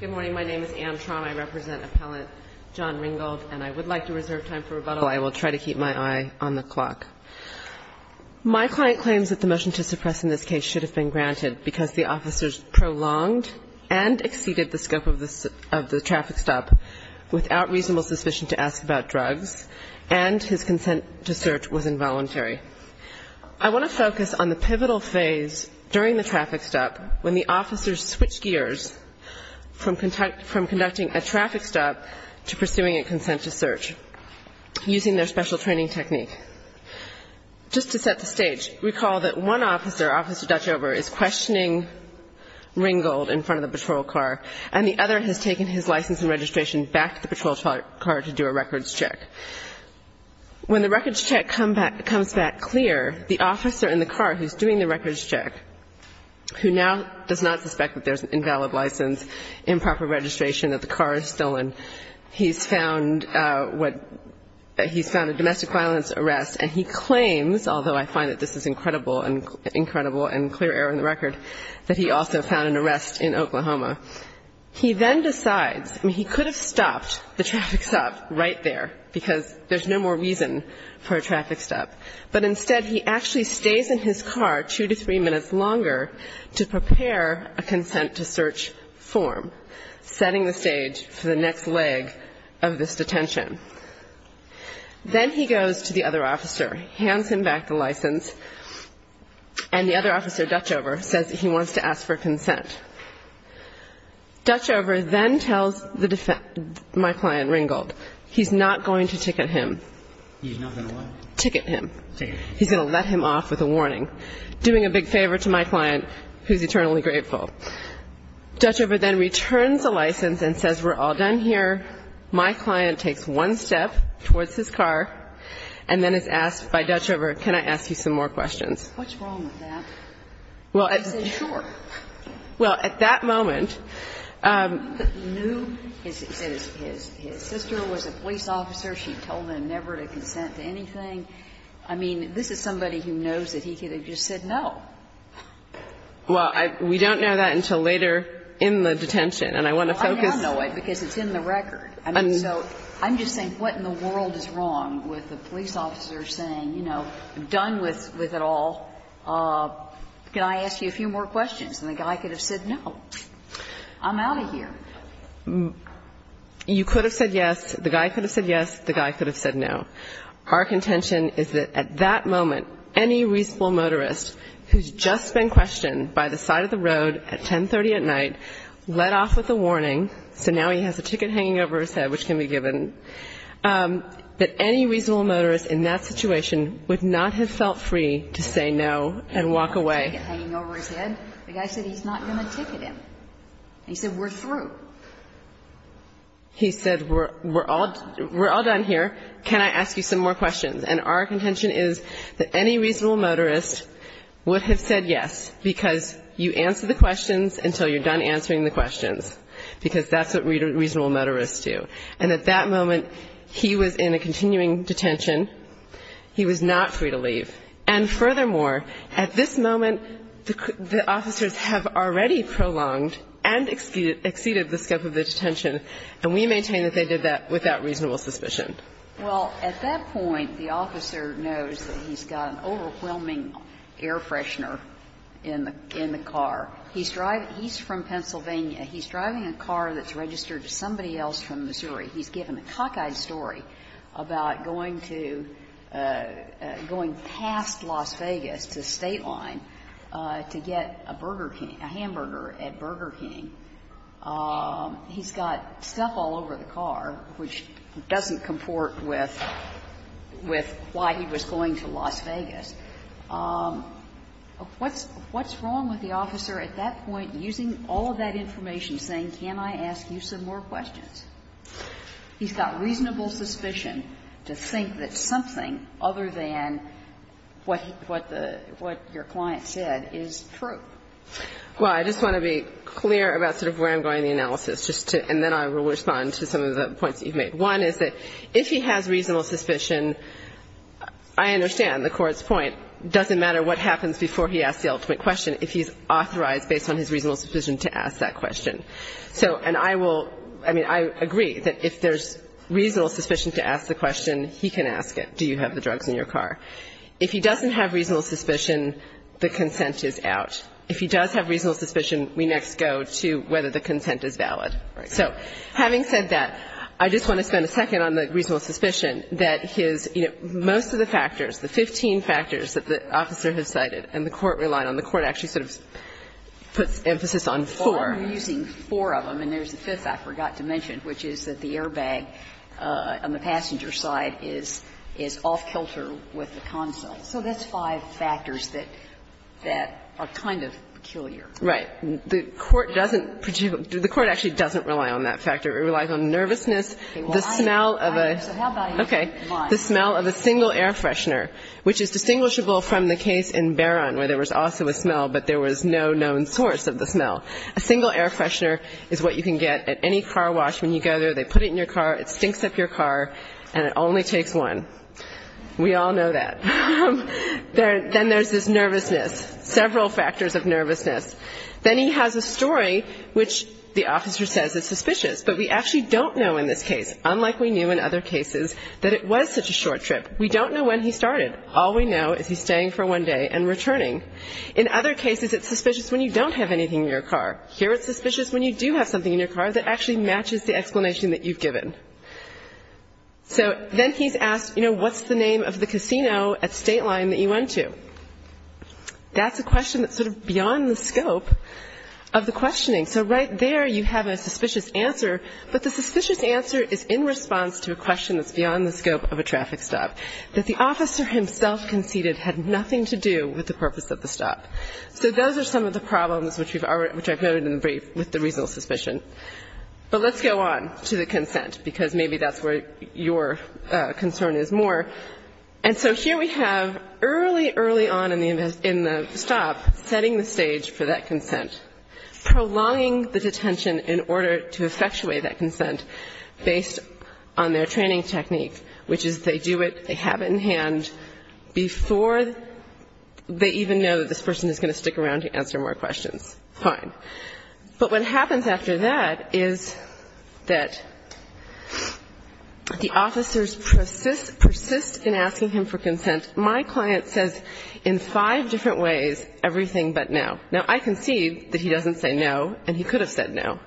Good morning. My name is Anne Traum. I represent Appellant John Ringgold, and I would like to reserve time for rebuttal. I will try to keep my eye on the clock. My client claims that the motion to suppress in this case should have been granted because the officers prolonged and exceeded the scope of the traffic stop without reasonable suspicion to ask about drugs, and his consent to search was involuntary. I want to focus on the pivotal phase during the traffic stop when the officers switched gears from conducting a traffic stop to pursuing a consent to search using their special training technique. Just to set the stage, recall that one officer, Officer Dutchover, is questioning Ringgold in front of the patrol car, and the other has taken his license and registration back to the patrol car to do a records check. When the records check comes back clear, the officer in the car who's doing the records check, who now does not suspect that there's an invalid license, improper registration, that the car is stolen, he's found what he's found a domestic violence arrest, and he claims, although I find that this is incredible and clear error in the record, that he also found an arrest in Oklahoma. He then decides, I mean, he could have stopped the traffic stop right there because there's no more reason for a traffic stop. But instead he actually stays in his car two to three minutes longer to prepare a consent to search form, setting the stage for the next leg of this detention. Then he goes to the other officer, hands him back the license, and the other officer, Dutchover, says he wants to ask for consent. Dutchover then tells my client Ringgold he's not going to ticket him. He's going to let him off with a warning, doing a big favor to my client, who's eternally grateful. Dutchover then returns the license and says, we're all done here. My client takes one step towards his car and then is asked by Dutchover, can I ask you some more questions? And Dutchover says, what's wrong with that? And he says, sure. Well, at that moment he knew his sister was a police officer. She told him never to consent to anything. I mean, this is somebody who knows that he could have just said no. Well, we don't know that until later in the detention, and I want to focus. I'm just saying what in the world is wrong with a police officer saying, you know, I'm done with it all. Can I ask you a few more questions? And the guy could have said no. I'm out of here. You could have said yes. The guy could have said yes. The guy could have said no. Our contention is that at that moment, any reasonable motorist who's just been questioned by the side of the road at 10.30 at night, let off with a warning, let off with a warning, and let off with a warning, so now he has a ticket hanging over his head, which can be given, that any reasonable motorist in that situation would not have felt free to say no and walk away. The guy said he's not going to ticket him. He said, we're through. He said, we're all done here. Can I ask you some more questions? And our contention is that any reasonable motorist would have said yes, because you answer the questions until you're done answering the questions, because that's what reasonable motorists do. And at that moment, he was in a continuing detention. He was not free to leave. And furthermore, at this moment, the officers have already prolonged and exceeded the scope of the detention, and we maintain that they did that without reasonable suspicion. Well, at that point, the officer knows that he's got an overwhelming air freshener in the car. He's driving he's from Pennsylvania. He's driving a car that's registered to somebody else from Missouri. He's given a cockeyed story about going to, going past Las Vegas to State Line to get a burger king, a hamburger at Burger King. He's got stuff all over the car, which doesn't comport with, with why he was going to Las Vegas. What's, what's wrong with the officer at that point using all of that information, saying can I ask you some more questions? He's got reasonable suspicion to think that something other than what, what the, what your client said is true. Well, I just want to be clear about sort of where I'm going in the analysis, just to, and then I will respond to some of the points that you've made. One is that if he has reasonable suspicion, I understand the court's point. It doesn't matter what happens before he asks the ultimate question if he's authorized based on his reasonable suspicion to ask that question. So, and I will, I mean, I agree that if there's reasonable suspicion to ask the question, he can ask it. Do you have the drugs in your car? If he doesn't have reasonable suspicion, the consent is out. If he does have reasonable suspicion, we next go to whether the consent is valid. So having said that, I just want to spend a second on the reasonable suspicion that his, you know, most of the factors, the 15 factors that the officer has cited and the court relied on, the court actually sort of puts emphasis on four. Well, you're using four of them, and there's a fifth I forgot to mention, which is that the airbag on the passenger side is off-kilter with the consent. So that's five factors that are kind of peculiar. Right. The court doesn't particularly do the court actually doesn't rely on that factor. It relies on nervousness, the smell of a. Okay. The smell of a single air freshener, which is distinguishable from the case in Barron where there was also a smell, but there was no known source of the smell. A single air freshener is what you can get at any car wash when you go there. They put it in your car. It stinks up your car, and it only takes one. We all know that. Then there's this nervousness, several factors of nervousness. Then he has a story which the officer says is suspicious, but we actually don't know in this case, unlike we knew in other cases, that it was such a short trip. We don't know when he started. All we know is he's staying for one day and returning. In other cases, it's suspicious when you don't have anything in your car. Here it's suspicious when you do have something in your car that actually matches the explanation that you've given. So then he's asked, you know, what's the name of the casino at State Line that you went to? That's a question that's sort of beyond the scope of the questioning. So right there you have a suspicious answer, but the suspicious answer is in response to a question that's beyond the scope of a traffic stop. That the officer himself conceded had nothing to do with the purpose of the stop. So those are some of the problems which I've noted in the brief with the reasonable suspicion. But let's go on to the consent, because maybe that's where your concern is more. And so here we have early, early on in the stop setting the stage for that consent. Prolonging the detention in order to effectuate that consent based on their training technique, which is they do it, they have it in hand, before they even know that this person is going to stick around to answer more questions. Fine. But what happens after that is that the officers persist in asking him for consent. My client says in five different ways, everything but no. Now, I concede that he doesn't say no, and he could have said no.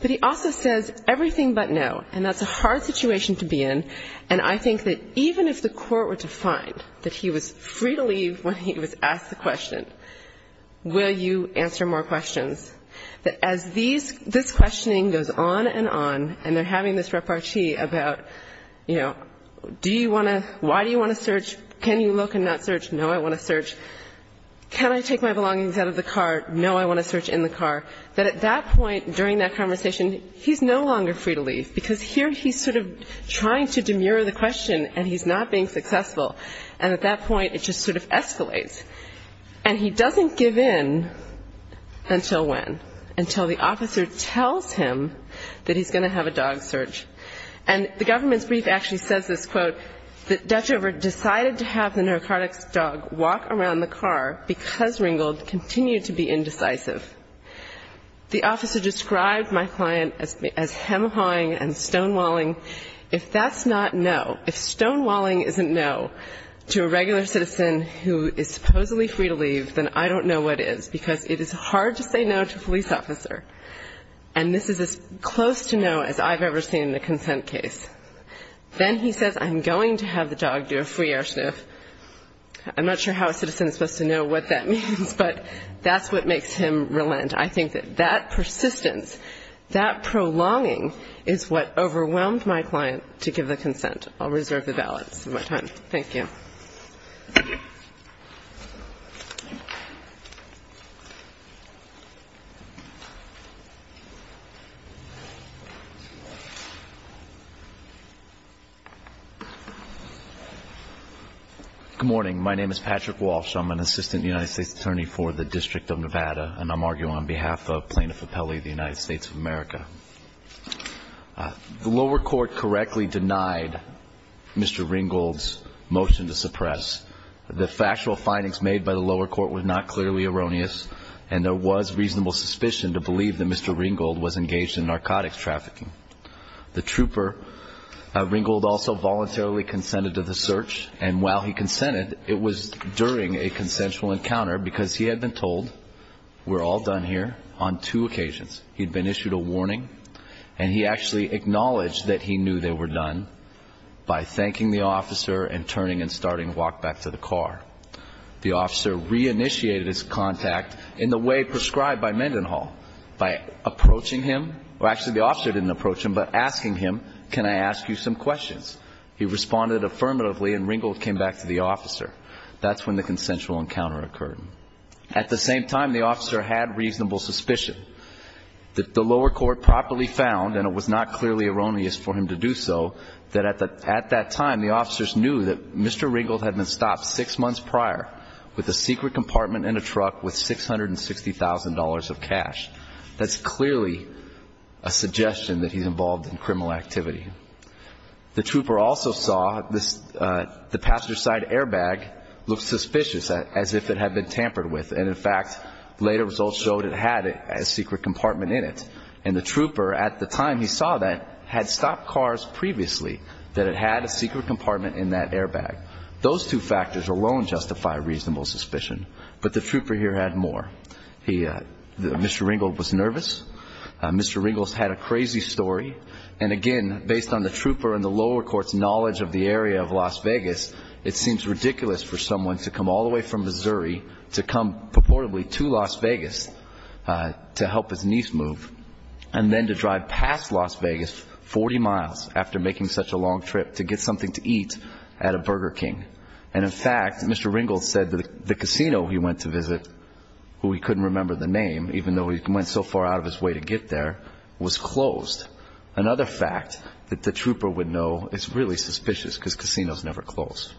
But he also says everything but no. And that's a hard situation to be in. And I think that even if the court were to find that he was free to leave when he was asked the question, will you answer more questions, that as these, this questioning goes on and on, and they're having this repartee about, you know, do you want to, why do you want to search? Can you look and not search? No, I want to search. Can I take my belongings out of the car? No, I want to search in the car. That at that point, during that conversation, he's no longer free to leave. Because here he's sort of trying to demur the question, and he's not being successful. And at that point, it just sort of escalates. And he doesn't give in until when? Until the officer tells him that he's going to have a dog search. And the government's brief actually says this, quote, that Dutchover decided to have the narcotics dog walk around the car because Ringgold continued to be indecisive. The officer described my client as hem-hawing and stonewalling. If that's not no, if stonewalling isn't no to a regular citizen who is supposedly free to leave, then I don't know what is, because it is hard to say no to a police officer. And this is as close to no as I've ever seen in a consent case. Then he says I'm going to have the dog do a free air sniff. I'm not sure how a citizen is supposed to know what that means, but that's what makes it so. That's what makes him relent. I think that persistence, that prolonging is what overwhelmed my client to give the consent. I'll reserve the balance of my time. Thank you. Thank you. Good morning. My name is Patrick Walsh. I'm an assistant United States attorney for the District of Nevada. And I'm arguing on behalf of Plaintiff Appelli of the United States of America. The lower court correctly denied Mr. Ringgold's motion to suppress. The factual findings made by the lower court were not clearly erroneous. And there was reasonable suspicion to believe that Mr. Ringgold was engaged in narcotics trafficking. The trooper, Ringgold, also voluntarily consented to the search. And while he consented, it was during a consensual encounter, because he had been told, we're all done here, on two occasions. He'd been issued a warning. He'd been issued a warning. He'd been issued a warning. And he actually acknowledged that he knew they were done by thanking the officer and turning and starting to walk back to the car. The officer reinitiated his contact in the way prescribed by Mendenhall, by approaching him. Well, actually, the officer didn't approach him, but asking him, can I ask you some questions? He responded affirmatively, and Ringgold came back to the officer. That's when the consensual encounter occurred. in narcotics trafficking. The factual findings made by the lower court were not clearly erroneous. It was properly found, and it was not clearly erroneous for him to do so, that at that time, the officers knew that Mr. Ringgold had been stopped six months prior with a secret compartment in a truck with $660,000 of cash. That's clearly a suggestion that he's involved in criminal activity. The trooper also saw the passenger-side airbag look suspicious, as if it had been tampered with. And in fact, later results showed it had a secret compartment in it. I'm sorry, I'm sorry. I'm sorry, I'm sorry. The trooper, at the time he saw that, had stopped cars previously that had a secret compartment in that airbag. Those two factors alone justify reasonable suspicion. But the trooper here had more. Mr. Ringgold was nervous. Mr. Ringgold had a crazy story. And again, based on the trooper and the lower court's knowledge of the area of Las Vegas, it seems ridiculous for someone to come all the way from Missouri to come purportedly to Las Vegas to help his niece move He's a very good driver. He's a very good driver. He's a very good driver. The trooper drove past Las Vegas 40 miles after making such a long trip to get something to eat at a Burger King. And in fact, Mr. Ringgold said the casino he went to visit, who he couldn't remember the name, even though he went so far out of his way to get there, was closed. Another fact that the trooper would know is really suspicious because casinos never close.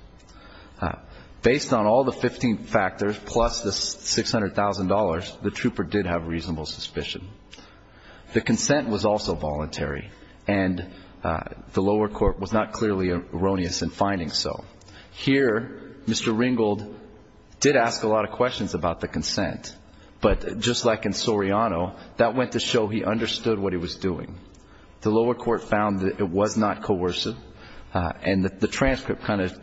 Based on all the 15 factors, plus the $600,000, the trooper did have I'm sorry, I'm sorry. I'm sorry. I'm sorry. I'm sorry. possible that the trooper's route was also voluntary, and the lower court was not clearly erroneous in finding so. Here, Mr. Ringgold did ask a lot of questions about the consent. But just like in Soriano, that went to show he understood what he was doing. The lower court found that it was not coercive and the transcript kind of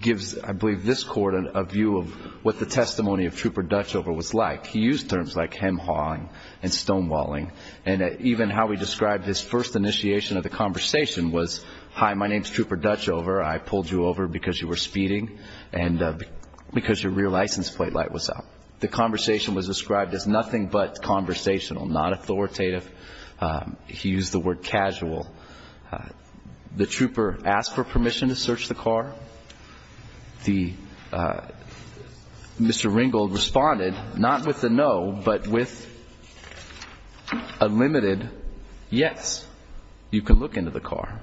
gives, I believe, this Court a view of what the testimony of Trooper Dutchover was like. He used terms like hem-hawing and stonewalling. And even how he described his first initiation of the conversation was, hi, my name's Trooper Dutchover. I pulled you over because you were speeding and because your rear license plate light was out. The conversation was described as nothing but conversational, not authoritative. He used the word casual. The trooper asked for permission to search the car. The Mr. Ringgold responded, not with force. Not with a no, but with a limited yes. You can look into the car.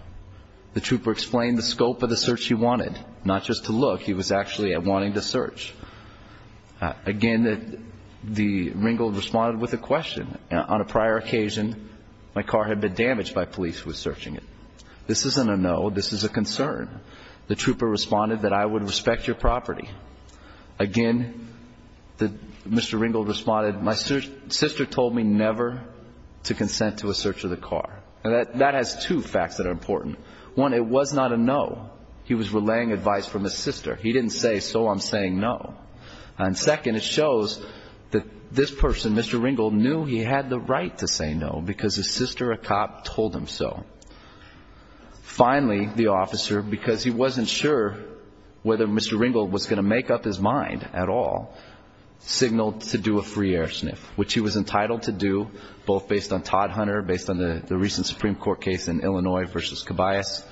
The trooper explained the scope of the search he wanted. Not just to look. He was actually wanting to search. Again, the Ringgold responded with a question. On a prior occasion, my car had been damaged by police who were searching it. This isn't a no. This is a concern. Again, the Mr. Ringgold responded with a yes. I would respect your property. The Mr. Ringgold responded, my sister told me never to consent to a search of the car. That has two facts that are important. One, it was not a no. He was relaying advice from his sister. He didn't say, so I'm saying no. Second, it shows that this person, Mr. Ringgold, knew he had the right to say no because his sister, a cop, told him so. Finally, the officer, because he wasn't sure whether Mr. Ringgold was going to make up his mind at all, signaled to do a free air sniff, which he was entitled to do, both based on Todd Hunter, based on the recent Supreme Court case in Illinois versus Cabayas.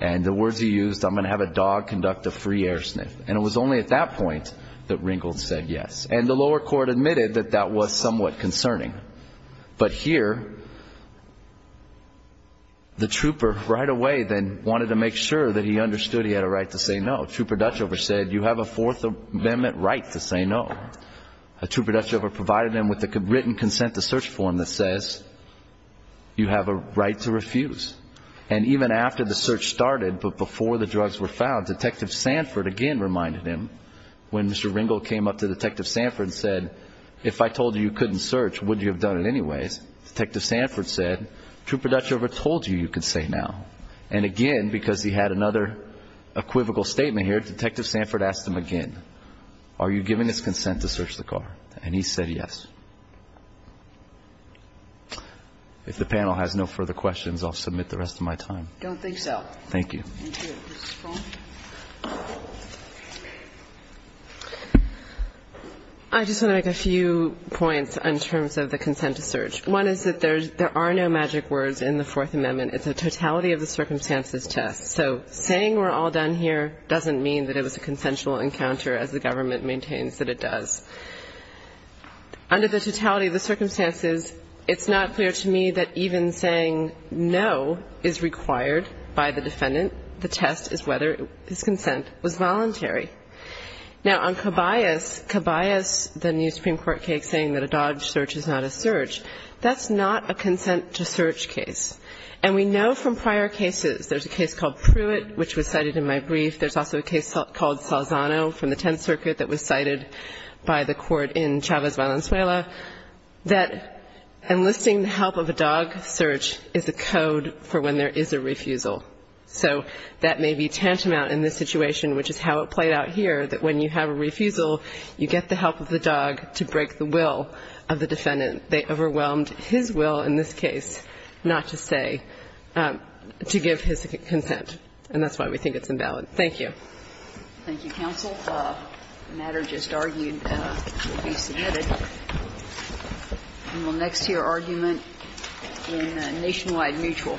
The words he used, I'm going to have a dog conduct a free air sniff. It was only at that point that Ringgold said yes. The lower court admitted that that was somewhat concerning. But here, the trooper right away then wanted to make sure that he understood he had a right to say no. Trooper Dutchover said, you have a Fourth Amendment right to say no. Trooper Dutchover provided him with a written consent to search form that says you have a right to refuse. And even after the search started, but before the drugs were found, Detective Sanford again reminded him when Mr. Ringgold came up to Detective Sanford and said, if I told you you couldn't search, would you have done it anyways? Detective Sanford said, Trooper Dutchover told you you could say now. And again, because he had another equivocal statement here, Detective Sanford asked him again, are you giving us consent to search the car? And he said yes. If the panel has no further questions, I'll submit the rest of my time. I don't think so. Thank you. Thank you. I just want to make a few points in terms of the consent to search. One is that there are no magic words in the Fourth Amendment. It's a totality of the circumstances test. So saying we're all done here doesn't mean that it was a consensual encounter as the government maintains that it does. Under the totality of the circumstances, it's not clear to me that even saying no is required by the defendant. The test is whether his consent was voluntary. Now, on Cabayas, Cabayas, the new Supreme Court case saying that a dodge search is not a search, that's not a consent to search case. And we know from prior cases, there's a case called Pruitt which was cited in my brief. There's also a case called Salzano from the Tenth Circuit that was cited by the court in Chavez Valenzuela that enlisting the help of a dog search is a code for when there is a refusal. So that may be tantamount in this situation, which is how it played out here, that when you have a refusal, you get the help of the dog to break the will of the defendant. They overwhelmed his will in this case not to search. And that's why we think it's invalid to say, to give his consent. And that's why we think it's invalid. Thank you. Thank you, counsel. The matter just argued to be submitted. And we'll next hear argument in Nationwide Mutual. Thank you, counsel.